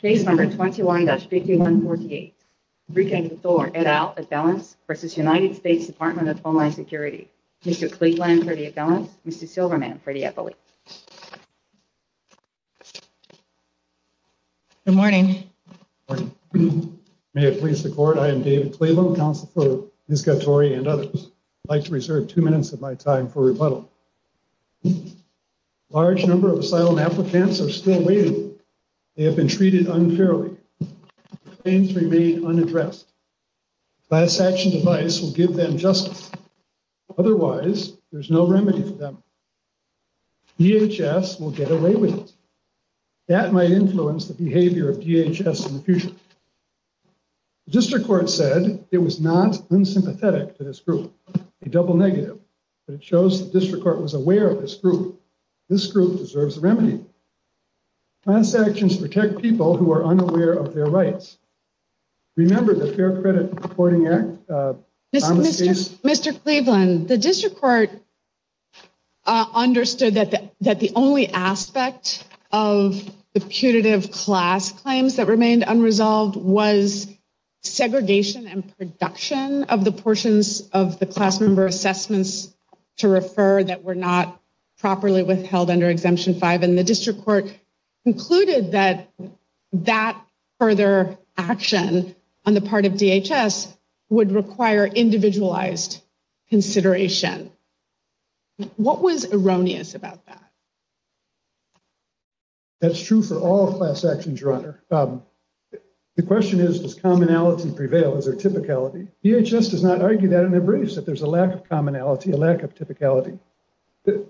Case No. 21-5148, Precinct Thorne et al. Appellants v. United States Department of Homeland Security Mr. Cleveland for the appellants, Mr. Silverman for the appellate Good morning Good morning May it please the court, I am David Cleveland, counsel for Ms. Gatore and others I'd like to reserve two minutes of my time for rebuttal A large number of asylum applicants are still waiting They have been treated unfairly Claims remain unaddressed Class action device will give them justice Otherwise, there's no remedy for them DHS will get away with it That might influence the behavior of DHS in the future The district court said it was not unsympathetic to this group A double negative But it shows the district court was aware of this group This group deserves a remedy Class actions protect people who are unaware of their rights Remember the Fair Credit Reporting Act Mr. Cleveland, the district court understood that the only aspect of the putative class claims that remained unresolved Was segregation and production of the portions of the class member assessments to refer that were not properly withheld under Exemption 5 And the district court concluded that that further action on the part of DHS would require individualized consideration What was erroneous about that? That's true for all class actions, Your Honor The question is, does commonality prevail? Is there typicality? DHS does not argue that and agrees that there's a lack of commonality, a lack of typicality In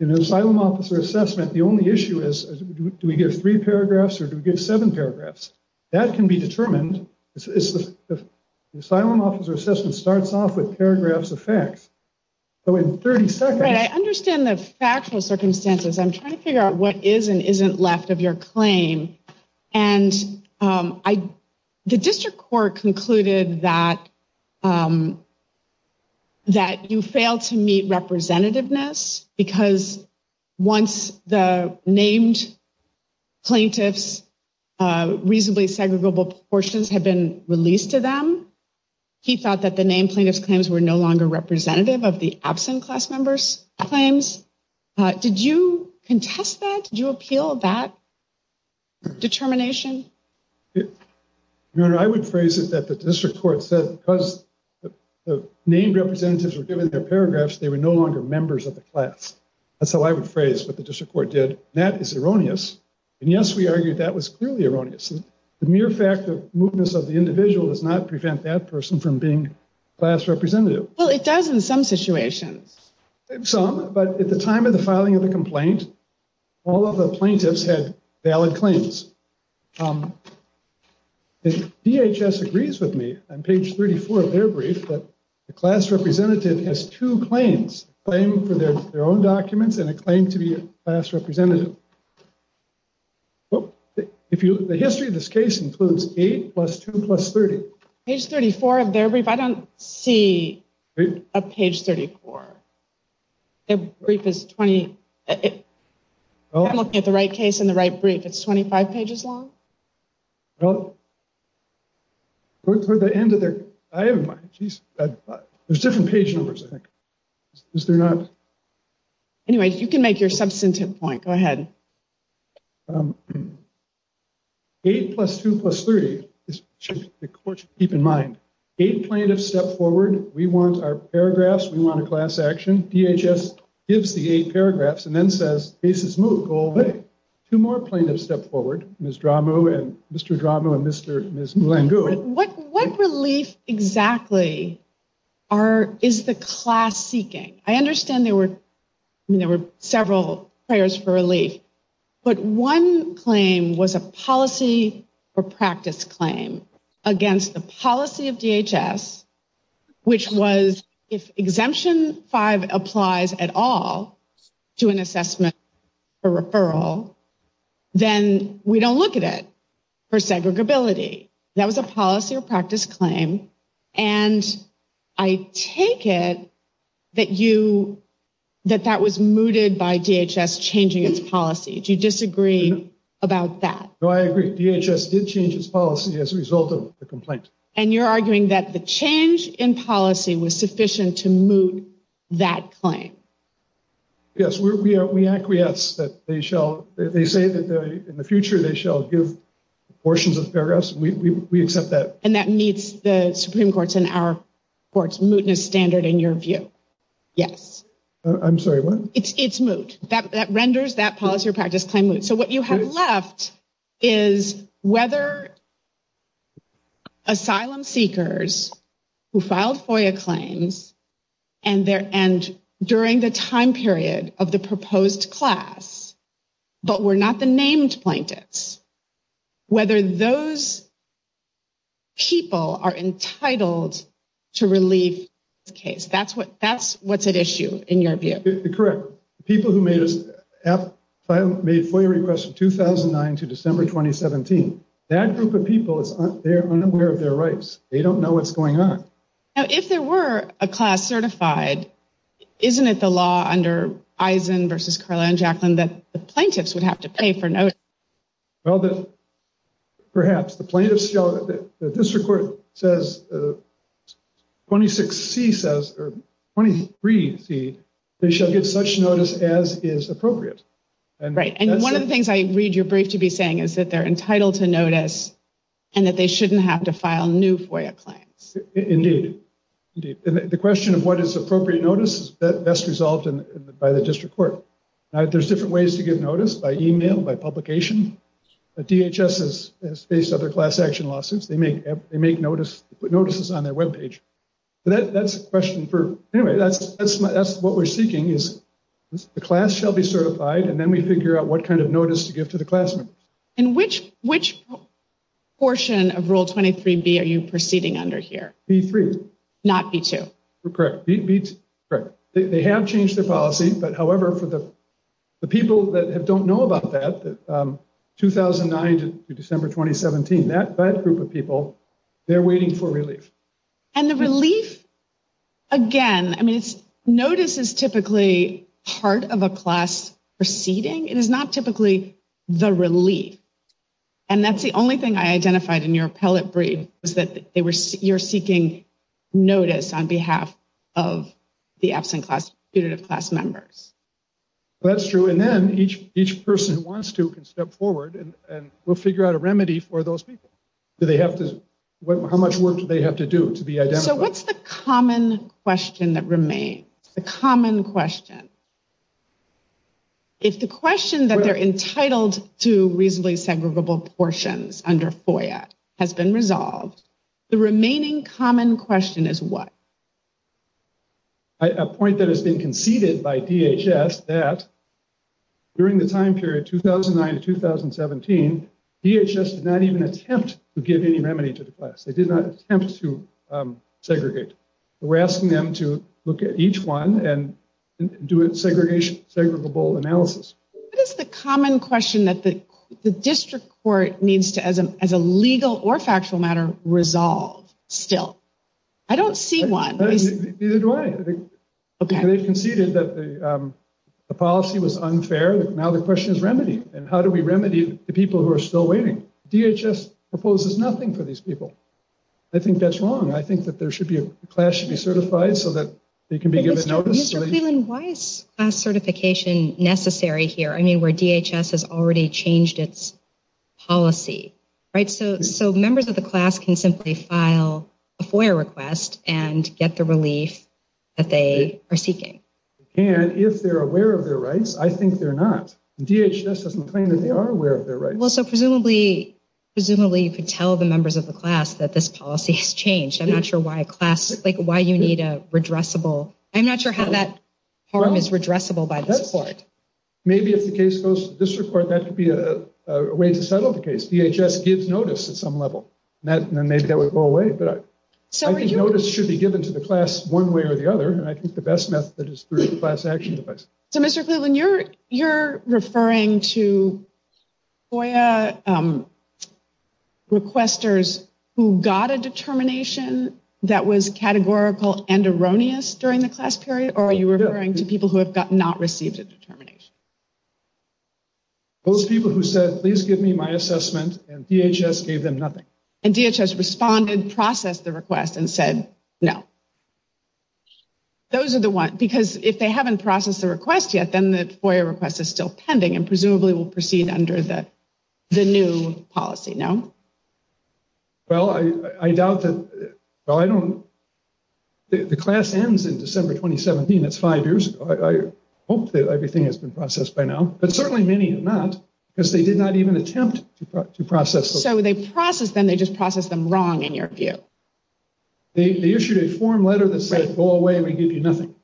an asylum officer assessment, the only issue is, do we get three paragraphs or do we get seven paragraphs? That can be determined The asylum officer assessment starts off with paragraphs of facts So in 30 seconds I understand the factual circumstances I'm trying to figure out what is and isn't left of your claim And the district court concluded that you failed to meet representativeness Because once the named plaintiff's reasonably segregable portions had been released to them He thought that the named plaintiff's claims were no longer representative of the absent class members' claims Did you contest that? Did you appeal that determination? Your Honor, I would phrase it that the district court said because the named representatives were given their paragraphs They were no longer members of the class That's how I would phrase what the district court did That is erroneous And yes, we argued that was clearly erroneous The mere fact of mootness of the individual does not prevent that person from being class representative Well, it does in some situations Some, but at the time of the filing of the complaint All of the plaintiffs had valid claims The DHS agrees with me on page 34 of their brief That the class representative has two claims A claim for their own documents and a claim to be a class representative The history of this case includes 8 plus 2 plus 30 Page 34 of their brief? I don't see a page 34 Their brief is 20... I'm looking at the right case and the right brief It's 25 pages long? Well... There's different page numbers, I think Anyway, you can make your substantive point, go ahead 8 plus 2 plus 30 The court should keep in mind Eight plaintiffs step forward We want our paragraphs, we want a class action DHS gives the 8 paragraphs and then says Case is moot, go away Two more plaintiffs step forward Mr. Dramu and Ms. Mulangu What relief exactly is the class seeking? I understand there were several prayers for relief But one claim was a policy or practice claim Against the policy of DHS Which was if exemption 5 applies at all To an assessment or referral Then we don't look at it For segregability That was a policy or practice claim And I take it That you... That that was mooted by DHS changing its policy Do you disagree about that? No, I agree, DHS did change its policy as a result of the complaint And you're arguing that the change in policy Was sufficient to moot that claim Yes, we acquiesce that they shall They say that in the future they shall give Portions of paragraphs, we accept that And that meets the Supreme Court's and our court's Mootness standard in your view Yes I'm sorry, what? It's moot That renders that policy or practice claim moot So what you have left Is whether Asylum seekers Who filed FOIA claims And during the time period of the proposed class But were not the named plaintiffs Whether those People are entitled To relieve the case That's what's at issue in your view Correct The people who made FOIA requests from 2009 to December 2017 That group of people, they're unaware of their rights They don't know what's going on Now if there were a class certified Isn't it the law under Eisen versus Karla and Jacqueline That the plaintiffs would have to pay for notice? Well, perhaps the plaintiffs The district court says 26C says, or 23C They shall get such notice as is appropriate Right, and one of the things I read your brief to be saying Is that they're entitled to notice And that they shouldn't have to file new FOIA claims Indeed The question of what is appropriate notice Is best resolved by the district court There's different ways to get notice By email, by publication DHS has faced other class action lawsuits They make notices on their webpage Anyway, that's what we're seeking The class shall be certified And then we figure out what kind of notice to give to the class members And which portion of Rule 23B are you proceeding under here? B3 Not B2 Correct They have changed their policy But however, for the people that don't know about that 2009 to December 2017 That group of people, they're waiting for relief And the relief, again I mean, notice is typically part of a class proceeding It is not typically the relief And that's the only thing I identified in your appellate brief Is that you're seeking notice On behalf of the absent class, punitive class members Well, that's true And then each person who wants to can step forward And we'll figure out a remedy for those people How much work do they have to do to be identified? So what's the common question that remains? The common question If the question that they're entitled to reasonably segregable portions Under FOIA has been resolved The remaining common question is what? A point that has been conceded by DHS That during the time period 2009 to 2017 DHS did not even attempt to give any remedy to the class They did not attempt to segregate We're asking them to look at each one And do a segregable analysis What is the common question that the district court needs to As a legal or factual matter, resolve still? I don't see one Neither do I They conceded that the policy was unfair Now the question is remedy And how do we remedy the people who are still waiting? DHS proposes nothing for these people I think that's wrong I think that there should be a class should be certified So that they can be given notice Mr. Cleland, why is class certification necessary here? I mean, where DHS has already changed its policy So members of the class can simply file a FOIA request And get the relief that they are seeking If they're aware of their rights, I think they're not DHS doesn't claim that they are aware of their rights So presumably you could tell the members of the class That this policy has changed I'm not sure why you need a redressable I'm not sure how that harm is redressable by this court Maybe if the case goes to the district court That could be a way to settle the case DHS gives notice at some level And maybe that would go away But I think notice should be given to the class one way or the other And I think the best method is through the class action device So Mr. Cleland, you're referring to FOIA requesters who got a determination That was categorical and erroneous during the class period Or are you referring to people who have not received a determination? Those people who said, please give me my assessment And DHS gave them nothing And DHS responded, processed the request and said no Those are the ones Because if they haven't processed the request yet Then the FOIA request is still pending And presumably will proceed under the new policy, no? Well, I doubt that The class ends in December 2017 That's five years ago I hope that everything has been processed by now But certainly many have not Because they did not even attempt to process So they process them They just process them wrong in your view They issued a form letter that said go away We give you nothing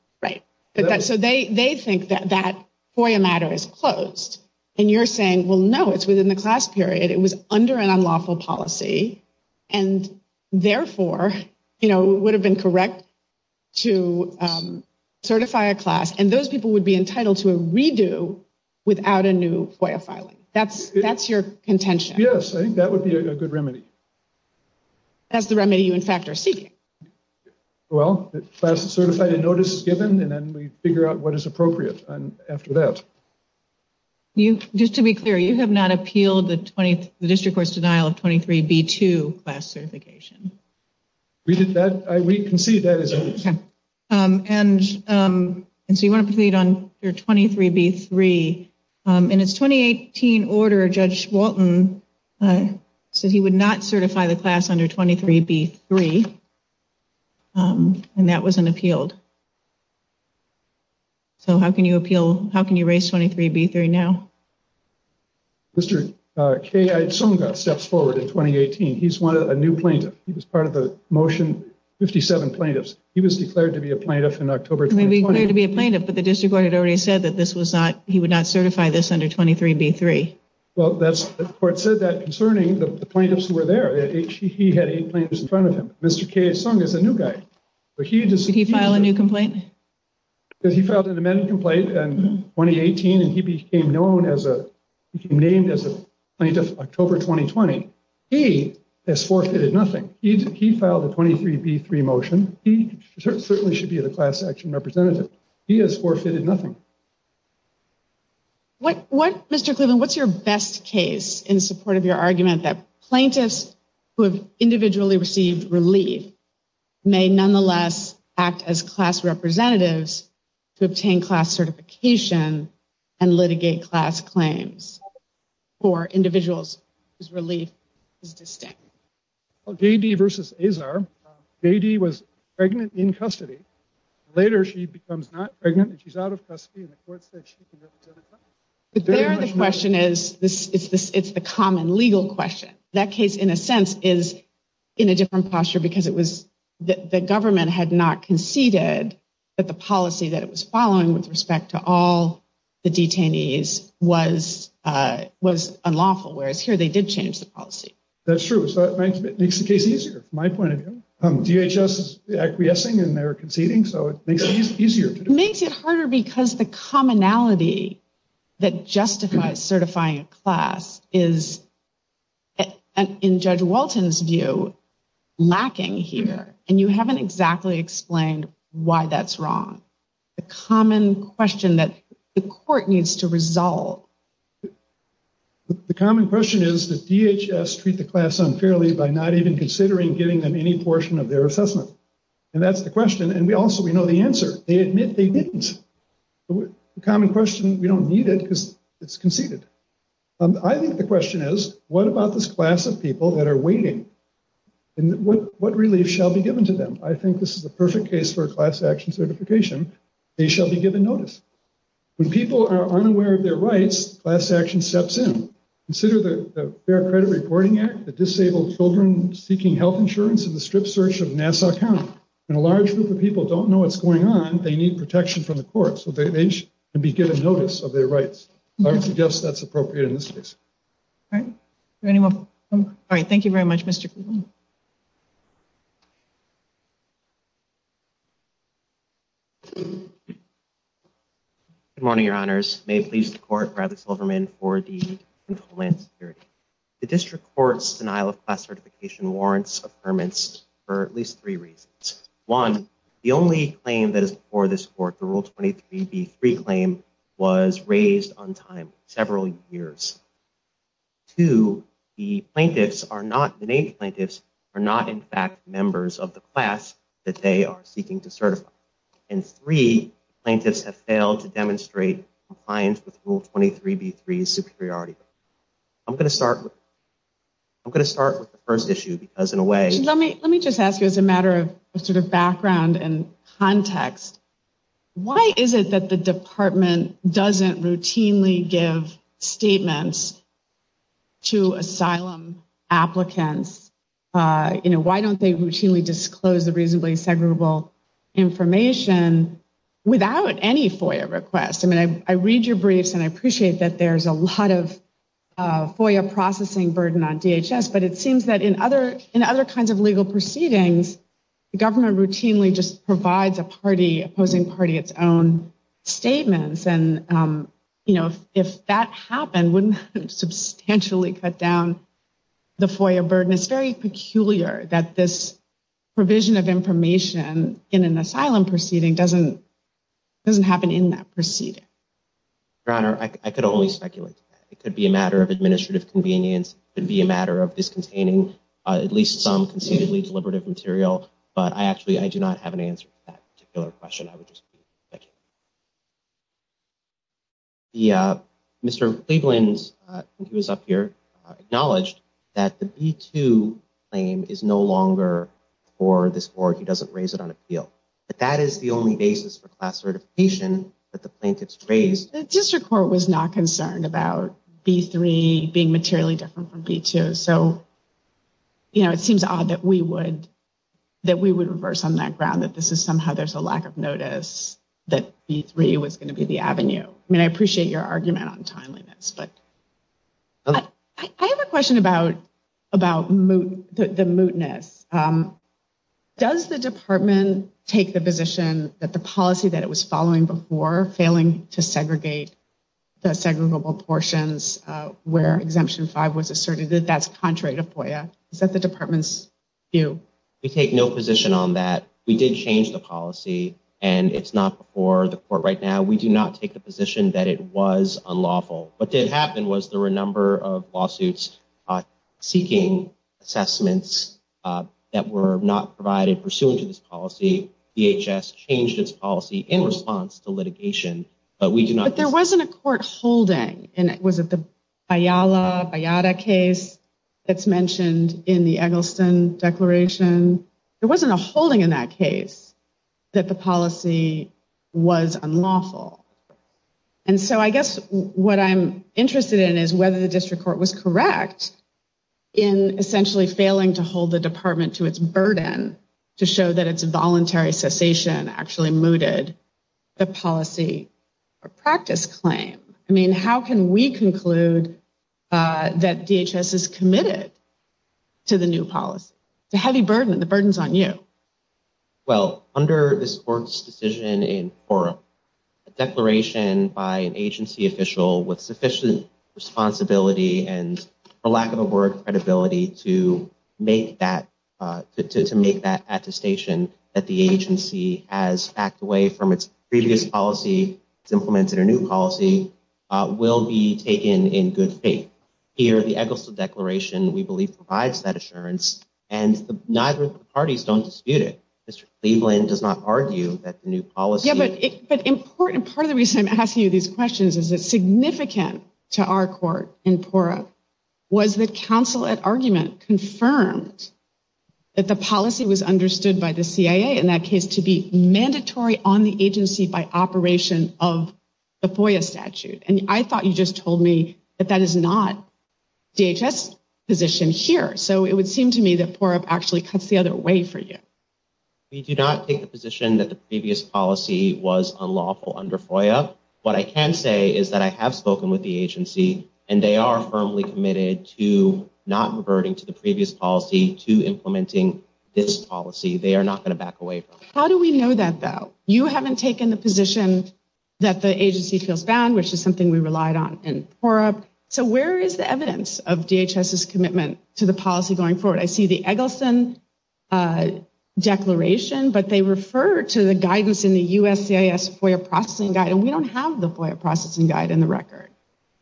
So they think that that FOIA matter is closed And you're saying, well, no, it's within the class period It was under an unlawful policy And therefore, you know, it would have been correct To certify a class And those people would be entitled to a redo Without a new FOIA filing That's your contention Yes, I think that would be a good remedy That's the remedy you, in fact, are seeking Well, the class is certified A notice is given And then we figure out what is appropriate And after that You just to be clear You have not appealed the 20th The district court's denial of 23b2 class certification We did that We concede that is And so you want to proceed on your 23b3 In its 2018 order, Judge Walton Said he would not certify the class under 23b3 And that was an appealed So how can you appeal? How can you raise 23b3 now? Mr. K. I. Tsonga steps forward in 2018 He's a new plaintiff He was part of the motion 57 plaintiffs He was declared to be a plaintiff in October He was declared to be a plaintiff But the district court had already said that this was not He would not certify this under 23b3 Well, that's the court said that concerning the plaintiffs Who were there He had eight plaintiffs in front of him Mr. K. Tsonga is a new guy Did he file a new complaint? Because he filed an amended complaint in 2018 And he became known as a He became named as a plaintiff October 2020 He has forfeited nothing He filed a 23b3 motion He certainly should be the class action representative He has forfeited nothing What Mr. Cleveland What's your best case in support of your argument That plaintiffs who have individually received relief May nonetheless act as class representatives To obtain class certification And litigate class claims For individuals whose relief is distinct J.D. versus Azar J.D. was pregnant in custody Later, she becomes not pregnant She's out of custody And the court said she can represent her But there the question is It's the common legal question That case, in a sense, is in a different posture Because it was The government had not conceded That the policy that it was following With respect to all the detainees Was unlawful Whereas here, they did change the policy That's true So it makes the case easier From my point of view DHS is acquiescing And they're conceding So it makes it easier It makes it harder Because the commonality That justifies certifying a class Is, in Judge Walton's view Lacking here And you haven't exactly explained Why that's wrong The common question that The court needs to resolve The common question is That DHS treat the class unfairly By not even considering Giving them any portion of their assessment And that's the question And we also, we know the answer They admit they didn't The common question We don't need it Because it's conceded I think the question is What about this class of people That are waiting And what relief Shall be given to them I think this is the perfect case For a class action certification They shall be given notice When people are unaware of their rights Class action steps in Consider the Fair Credit Reporting Act That disabled children Seeking health insurance In the strip search of Nassau County When a large group of people Don't know what's going on They need protection from the court So they can be given notice Of their rights I would suggest that's appropriate In this case All right Does anyone All right, thank you very much Mr. Cleveland Good morning, your honors May it please the court Bradley Silverman For the control and security The district court's Denial of class certification Warrants of permits For at least three reasons One The only claim That is before this court The Rule 23B3 claim Was raised untimely Several years Two The plaintiffs Are not The named plaintiffs Are not in fact Members of the class That they are seeking to certify And three The plaintiffs have failed To demonstrate compliance With Rule 23B3's superiority I'm going to start I'm going to start With the first issue Because in a way Let me just ask you As a matter of Sort of background And context Why is it that the department Doesn't routinely give Statements To asylum applicants You know Why don't they routinely Disclose the reasonably Segregable information Without any FOIA request I read your briefs And I appreciate that There's a lot of FOIA processing burden On DHS But it seems that In other kinds of legal proceedings The government routinely Just provides a party Opposing party Its own statements And you know If that happened Wouldn't that substantially Cut down the FOIA burden It's very peculiar That this provision of information In an asylum proceeding Doesn't happen in that proceeding Your Honor I could only speculate It could be a matter Of administrative convenience It could be a matter Of this containing At least some Conceivably deliberative material But I actually I do not have an answer To that particular question I would just be Speculating Mr. Cleveland When he was up here Acknowledged That the B-2 claim Is no longer For this court He doesn't raise it on appeal But that is the only basis For class certification That the plaintiffs raised The district court Was not concerned about B-3 being materially Different from B-2 So you know It seems odd That we would That we would reverse On that ground That this is somehow There's a lack of notice That B-3 Was going to be the avenue I mean I appreciate Your argument on timeliness But I have a question about The mootness Does the department Take the position That the policy That it was following before Failing to segregate The segregable portions Where exemption five Was asserted That that's contrary to FOIA Is that the department's view? We take no position on that We did change the policy And it's not before The court right now We do not take the position That it was unlawful What did happen was There were a number of lawsuits Seeking assessments That were not provided Pursuant to this policy DHS changed its policy In response to litigation But we do not But there wasn't a court holding Was it the Bayala Bayada case That's mentioned In the Eggleston declaration There wasn't a holding in that case That the policy Was unlawful And so I guess What I'm interested in Is whether the district court Was correct In essentially failing To hold the department To its burden To show that its voluntary Cessation actually mooted The policy Or practice claim I mean how can we conclude That DHS is committed To the new policy It's a heavy burden The burden's on you Well under this court's decision In forum A declaration by an agency official With sufficient responsibility And for lack of a word Credibility to make that To make that attestation That the agency Has backed away from its previous policy It's implemented a new policy Will be taken In good faith Here the Eggleston declaration We believe provides that assurance And neither of the parties Don't dispute it Mr. Cleveland does not argue That the new policy Yeah but important Part of the reason I'm asking you These questions is It's significant To our court In PORRA Was that counsel At argument Confirmed That the policy was understood By the CIA In that case to be Mandatory on the agency By operation of The FOIA statute And I thought you just told me That that is not DHS position here So it would seem to me That PORRA actually Cuts the other way for you We do not take the position That the previous policy Was unlawful under FOIA What I can say Is that I have spoken With the agency And they are firmly committed To not reverting To the previous policy To implementing this policy They are not going to back away from it How do we know that though? You haven't taken the position That the agency feels bound By FOIA Which is something we relied on In PORRA So where is the evidence Of DHS's commitment To the policy going forward? I see the Eggleston Declaration But they refer to the guidance In the USCIS FOIA processing guide And we don't have The FOIA processing guide In the record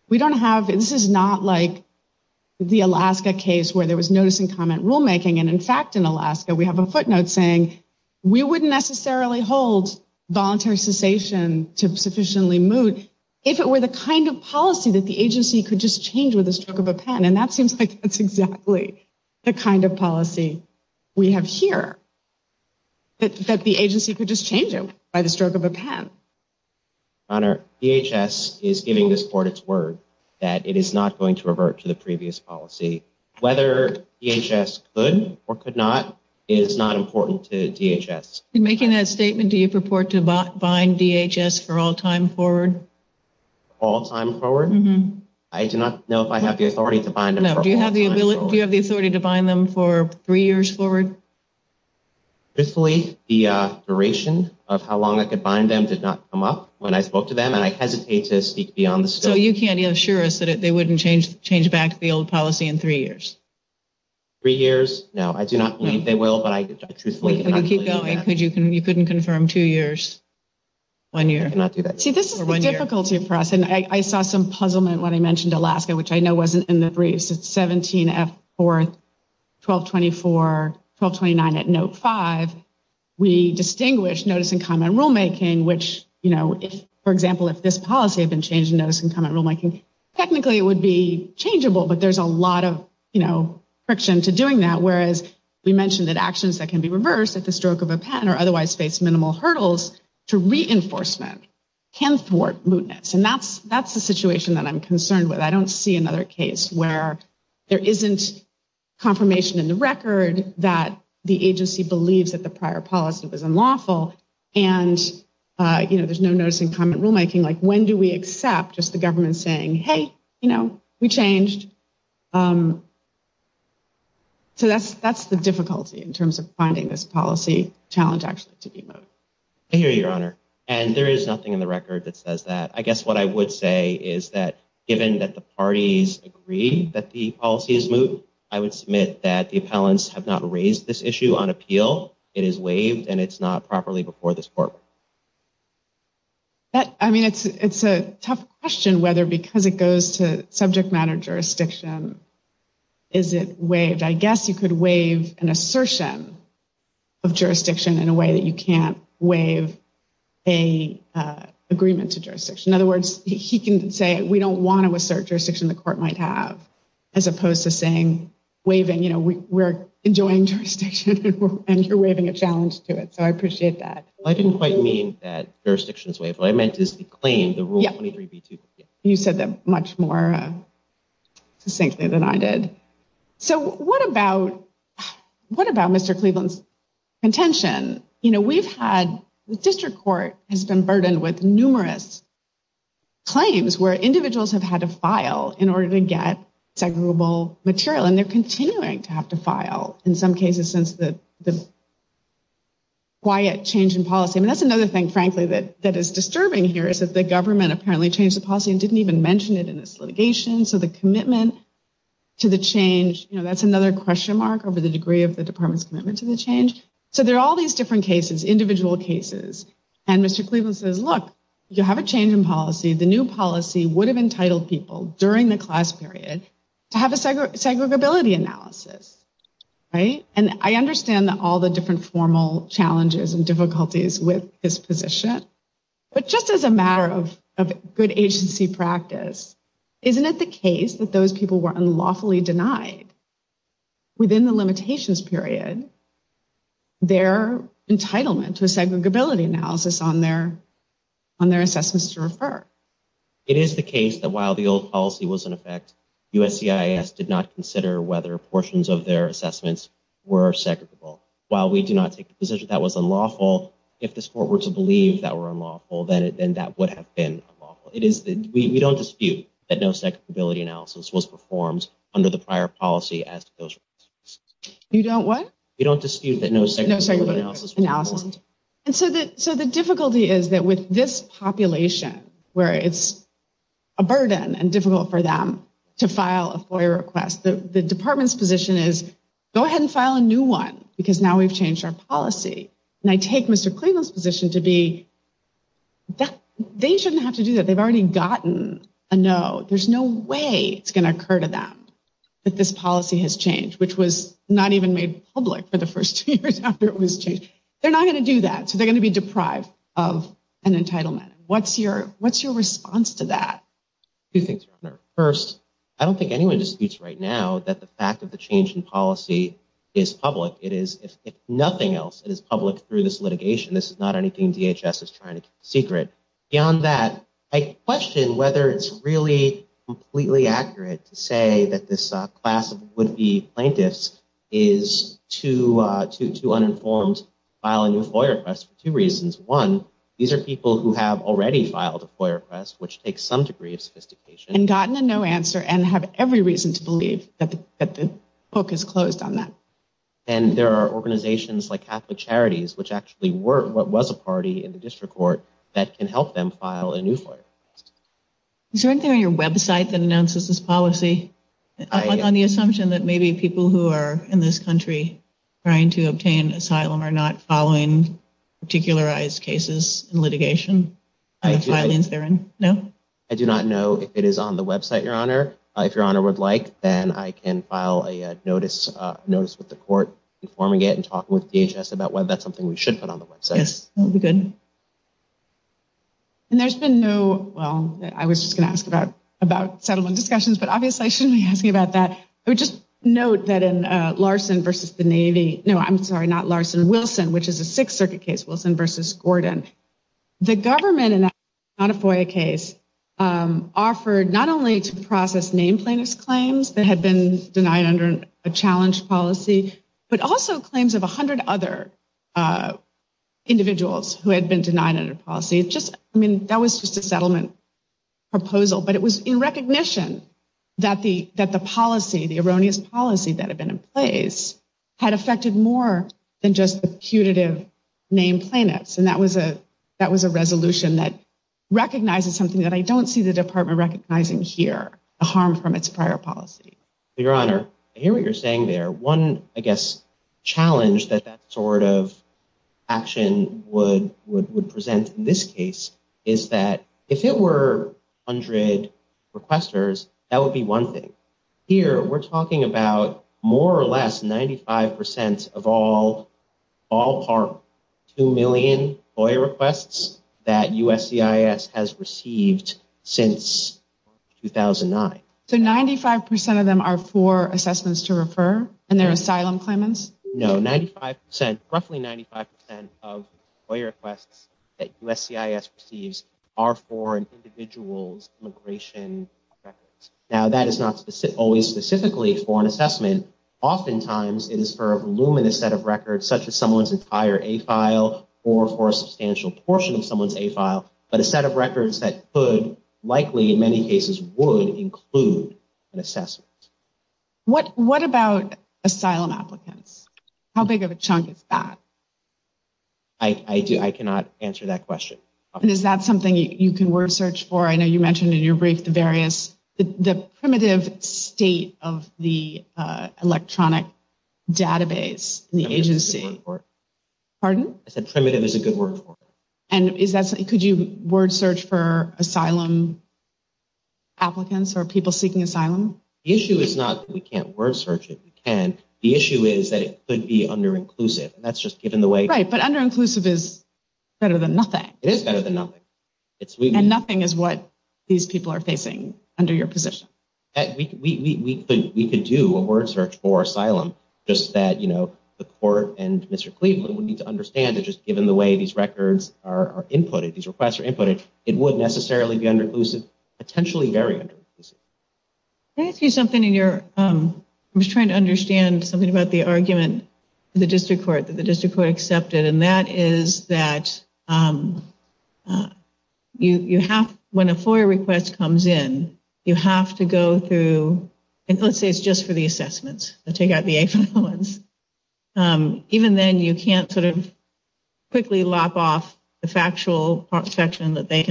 We don't have This is not like The Alaska case Where there was notice And comment rulemaking And in fact in Alaska We have a footnote saying We wouldn't necessarily hold Voluntary cessation To sufficiently moot If it were the kind of policy That the agency could just change With the stroke of a pen And that seems like That's exactly The kind of policy We have here That the agency Could just change it By the stroke of a pen Honor DHS is giving this court Its word That it is not going to revert To the previous policy Whether DHS could Or could not Is not important to DHS In making that statement Do you purport To bind DHS For all time forward All time forward I do not know If I have the authority To bind them Do you have the ability Do you have the authority To bind them For three years forward Truthfully The duration Of how long I could bind them Did not come up When I spoke to them And I hesitate To speak beyond the scope So you can't assure us That they wouldn't change Back to the old policy In three years Three years No I do not believe They will But I truthfully Can you keep going You couldn't confirm Two years One year I cannot do that See this is the difficulty For us And I saw some puzzlement When I mentioned Alaska Which I know wasn't In the briefs It's 17F4 1224 1229 At note 5 We distinguish Notice and comment rulemaking Which you know For example If this policy Had been changed Notice and comment rulemaking Technically it would be Changeable But there is a lot of You know Friction to doing that Whereas We mentioned that actions That can be reversed At the stroke of a pen Or otherwise face Minimal hurdles To reinforcement Can thwart mootness And that's That's the situation That I'm concerned with I don't see another case Where there isn't Confirmation in the record That the agency believes That the prior policy Was unlawful And you know There's no notice Just the government Saying hey You know We changed So that's That's the difficulty In terms of finding This policy And that's The difficulty In terms of finding This policy Challenge actually To be moot I hear you your honor And there is nothing In the record That says that I guess what I would say Is that Given that the parties Agree that the policy Is moot I would submit That the appellants Have not raised this issue On appeal It is waived And it's not properly Before this court That I mean it's It's a tough question Whether because it goes To subject matter jurisdiction Is it waived I guess you could waive An assertion Of jurisdiction In a way that you can't Waive A Agreement to jurisdiction In other words He can say We don't want to assert Jurisdiction the court Might have As opposed to saying Waiving You know We're enjoying jurisdiction And you're waiving A challenge to it So I appreciate that I didn't quite mean That jurisdiction is waived What I meant is The claim The rule 23b2 You said that much more Succinctly than I did So what about Mr. Cleveland's Contention You know We've had The district court Has been burdened With numerous Claims Where individuals Have had to file In order to get Segregable material And they're continuing To have to file In some cases Since the Quiet change in policy And that's another thing Frankly that That is disturbing here Is that the government Apparently changed the policy And didn't even mention it In its litigation So the commitment To the change You know That's another Question mark Over the degree Of the department's Commitment to the change So there are all These different cases Individual cases And Mr. Cleveland says Look You have a change In policy The new policy Would have entitled people During the class period To have a segregability Analysis Right And I understand That all the different Formal challenges And difficulties With his position But just as a matter Of good agency practice Isn't it the case That those people Were unlawfully denied Within the limitations period Their entitlement To a segregability analysis On their On their assessments To refer It is the case That while the old policy Was in effect USCIS Did not consider Whether portions Of their assessments Were segregable While we do not Take the position That was unlawful If this court Were to believe That were unlawful Then that would have Been unlawful It is We don't dispute That no segregability Analysis Was performed Under the prior policy As those You don't what You don't dispute That no Analysis Analysis And so that So the difficulty Is that with this Population Where it's A burden And difficult for them To file A FOIA request The department's Position is Go ahead and file A new one Because now we've Changed our policy And I take Mr. Cleveland's Position to be That they shouldn't Have to do that Because they've Already gotten A no There's no way It's going to occur To them That this policy Has changed Which was not even Made public For the first two years After it was changed They're not going To do that So they're going To be deprived Of an entitlement What's your What's your response To that? Two things First I don't think Anyone disputes Right now That the fact Of the change In policy Is public It is If nothing else It is public Through this litigation This is not anything DHS is trying To keep secret Beyond that I question Whether it's really Completely accurate To say That this Class of would-be Plaintiffs Is Too Uninformed To file A new FOIA request For two reasons One These are people Who have already Filed a FOIA request Which takes Some degree Of sophistication And gotten The no answer And have every reason To believe That the book Is closed on that And there are Organizations like Catholic Charities Which actually were What was a party In the district court That can help them File a new FOIA request Is there anything On your website That announces This policy On the assumption That maybe people Who are In this country Trying to obtain Asylum Are not following Particularized cases In litigation And the filings They're in No? I do not know If it is on the website Your honor If your honor would like Then I can file A notice With the court Informing it And talking with DHS About whether that's something We should put on the website Yes That would be good And there's been no Well I was just going to ask About settlement discussions But obviously I shouldn't be asking About that I would just note That in Larson Versus the Navy No I'm sorry Not Larson Wilson Which is a sixth circuit case Wilson versus Gordon The government In that Not a FOIA case Offered Not only To process Name plaintiffs claims That had been Denied under A challenge policy But also claims Of a hundred other Individuals Who had been Denied under policy Just I mean That was just A settlement Proposal But it was In recognition That the Policy The erroneous policy That had been in place Had affected more Than just The putative Name plaintiffs And that was a That was a resolution That recognizes Something that I don't See the department Recognizing here The harm from Its prior policy Your Honor I hear what you're Saying there One I guess Challenge That that sort of Action Would Would present In this case Is that If it were Hundred Requesters That would be One thing Here we're Talking about More or less 95% Of all All Part Two million Boy requests That USCIS Has received Since 2009 So 95% Of them Are for Assessments to Refer And their Asylum Claimants No 95% Roughly 95% Of Boy requests That USCIS Receives Are for Individuals Immigration Records Now that is Not always Specifically for An assessment Oftentimes It is for A voluminous Set of records Such as Someone's Entire A file Or for A substantial Portion of Someone's A file But a set Of records That could Likely in Many cases Would Include An assessment What What about Asylum Applicants How big of A chunk Is that I cannot Answer that Question Is that something You can Word search For I know you Mentioned In your Brief The Primitive State Of The Electronic Database In the Agency Pardon I said Primitive Is a Good word For Not A Assessment I Was Under Closed Potentially Very Under Closed I Was Trying To Understand The Argument The District Court Accepted That Is That You Have To Go Through The Assessments Even Then You Can't Quickly Lop Off The Factual Section As Opposed To The Analytical Section I Was Trying To Figure Out Sometimes It Is Difficult To Figure The Factual Section As Opposed To The Section As Opposed To The Factual Section As Opposed To The Analytical Section As Opposed To The Moot Section As Opposed To The Analytical Section As Opposed To The Analytical Section As Opposed To The Moot Section As Opposed To The Analytical Section As Opposed To The Analytical Section As Opposed Analytical Section As Op exposed Exposed Temples As Opposed To The Analytical Section As Opposed To Moot Section As Opposed To The Analytical To Analogical Section The Analytical Section Assimilation Reconstruction Shopping Shopping Supply System Supply Supply Supply Supply Supply System Supply Supply System Supply Section Acceleration 再 Action Action Subprime 角 The Analytical Section The Analogical Section Section. We, we, We, we, we, we, we have... We, we, we. We have We have those. Out of that. Out of that. In on that research. They responsible for the claim. If you assume it's timely then the plaintiffs were not members of the class they sought to certify at the moment in time that it matters. You have one case. What is the case for that mattering? It is Falcon, Rodriguez and Hartman. In Falcone it was a representative problem because the claim never was parallel. We have several cases where the claim was really on all fours with the class claim and it was allowed to go forward. I'm thinking about the case that Mr. Cleveland mentioned. I'm thinking about the I think it was the I'm mixing up my cases and my class cases. There are several cases where we said somebody because of the error of the district court and not certifying class. It would have been certified. We can relate it back. The IDEA case. The standard here, the rule as I understand it is that if the district court erroneously denies class certification and then after that a named plaintiff ceases to be a class member then you're correct. That can relate back to before the denial. That involves a situation where the named plaintiff ceases to be a class member after the district court grants or denies rules on class certification. Here you have a situation where the named plaintiff ceased to be a class member after the district court granted rules on class certification. The district court did not rule on class certification back in the early written order before. There were other named plaintiffs whose claims were responded to by DHS after that. There are some named plaintiffs with respect to the representativeness determination. I'm glad you brought that up. The other new plaintiffs that Mr. Cleveland referred to were not plaintiffs. They were never added to the case. I thought the district court granted that. Not quite. What the district court did was the plaintiffs moved to add 57 new plaintiffs. The district court granted and denied that motion in part. It granted leave to file a motion. It denied the motion in all other aspects. Rather than sort it out for itself, it invited plaintiffs to file an amended motion for leave and then ordered the government to respond to that. The district court never granted leave to file that amended motion. The plaintiffs never were plaintiffs in the district court. The plaintiffs have complained that the government is picking off plaintiffs as fast as they can. There are doctrines by which the defendant is picking off either named or would be proposed named plaintiffs even before class certification does not create a problem. Let's assume not voluntary cessation so the merits aren't class certification. We have a case law that says that cannot count for disqualifying named plaintiffs from pursuing a class action. You did not address that issue. I didn't see it at all in your argument. Your argument that you have to have plaintiffs that are members of the class and pick off is an exception to that. They raised you didn't address. The pick off doctrine is a mutinous doctrine. We are talking about picking off doctrine in the rule 23 context. Even putting that aside, let's assume for the sake of argument. If there are cases that have allowed classes to proceed in the face of picking off, under rule 23, you have waived any argument against that. I'm looking at your brief and I don't see an argument. I'm asking you whether you waived that argument. We waived any argument as to the pick off exception that you didn't respond to. We waived any argument concerning the pick off doctrine in the mootness context. We don't believe the plaintiffs raised such an argument. Aren't they overlapping? Isn't the non- represent of the plaintiffs limited to the fact that they have received responses and the absent class members haven't? So the non- represent tiveness that the district court pointed to was mootness. There's nothing Falcone like about their non- represent tiveness. It's just that they got picked off. It really is a mootness point. It's similar to a mootness point. There's a similarity between the requirement of rule 23 that you be a member of the class and the mootness requirement. That's the only non- represent tiveness. The way that plaintiffs themselves chose to define the class is a class of persons who requested their assessments but received no portion of it. Why isn't D.L. versus District of Columbia authority for this idea that a claim of a named plaintiff that becomes moot can relate back to the time of the complaint filing and therefore retain the represent tiveness that rule 23 requires. Our position is not a mootness. It's rule 23. We'd argue that D.L. is an moment in time. Moving past that, we would go back to the idea that the key moment in time is the moment when the District Court rules on class certification. I can't remember the precise facts of D.L. on my head but here the plaintiffs ceased to be members of the District Court. So why doesn't the government raise a more robust mootness claim here? What type of addressability can this court offer these plaintiffs after DHS has changed its policy? Our position is that the named plaintiffs claims, not any more moot. Yes, their claims are moot but our understanding is that if a named plaintiff's claims become moot after the District Court rules on class certification, they may nonetheless serve as class representatives. So that's why we haven't raised this mootness argument. Because while their claims are moot, that alone does not preclude them from serving as class representatives. What does preclude them from serving as class representatives is that they're no longer members of the class they seek to certify and they weren't even before the District Court ruled on. They filed a lot of amended complaints adding new people but the District Court never accepted any of those other complaints. The second amended complaint is the last one. Any further questions? Thank you very much for your patience with us. Mr. Cleveland will give you two minutes. I think he's the important person in this case. He enters the picture in 2018, appendix 1441, the motion to add plaintiffs. October 2020 the court made a ruling, and he promptly filed a motion in 1764. He's very much in the picture. He forfeited nothing. In D.L. versus D.C. it was a case of kids unfairly treated. Ten years later, the case is still D.C. circuit. There's still a large group of kids unfairly treated. I believe there are 15 assessments in the record. It's easy to read it and start off with the facts all the same. It was hit on the head because blah, blah, blah. Very easy to segregate. In 2018, the judge said the portions are easily segregated. I unfairly treated. In 2019, the judge said the portions are easily segregated. In 2019, the judge said the portions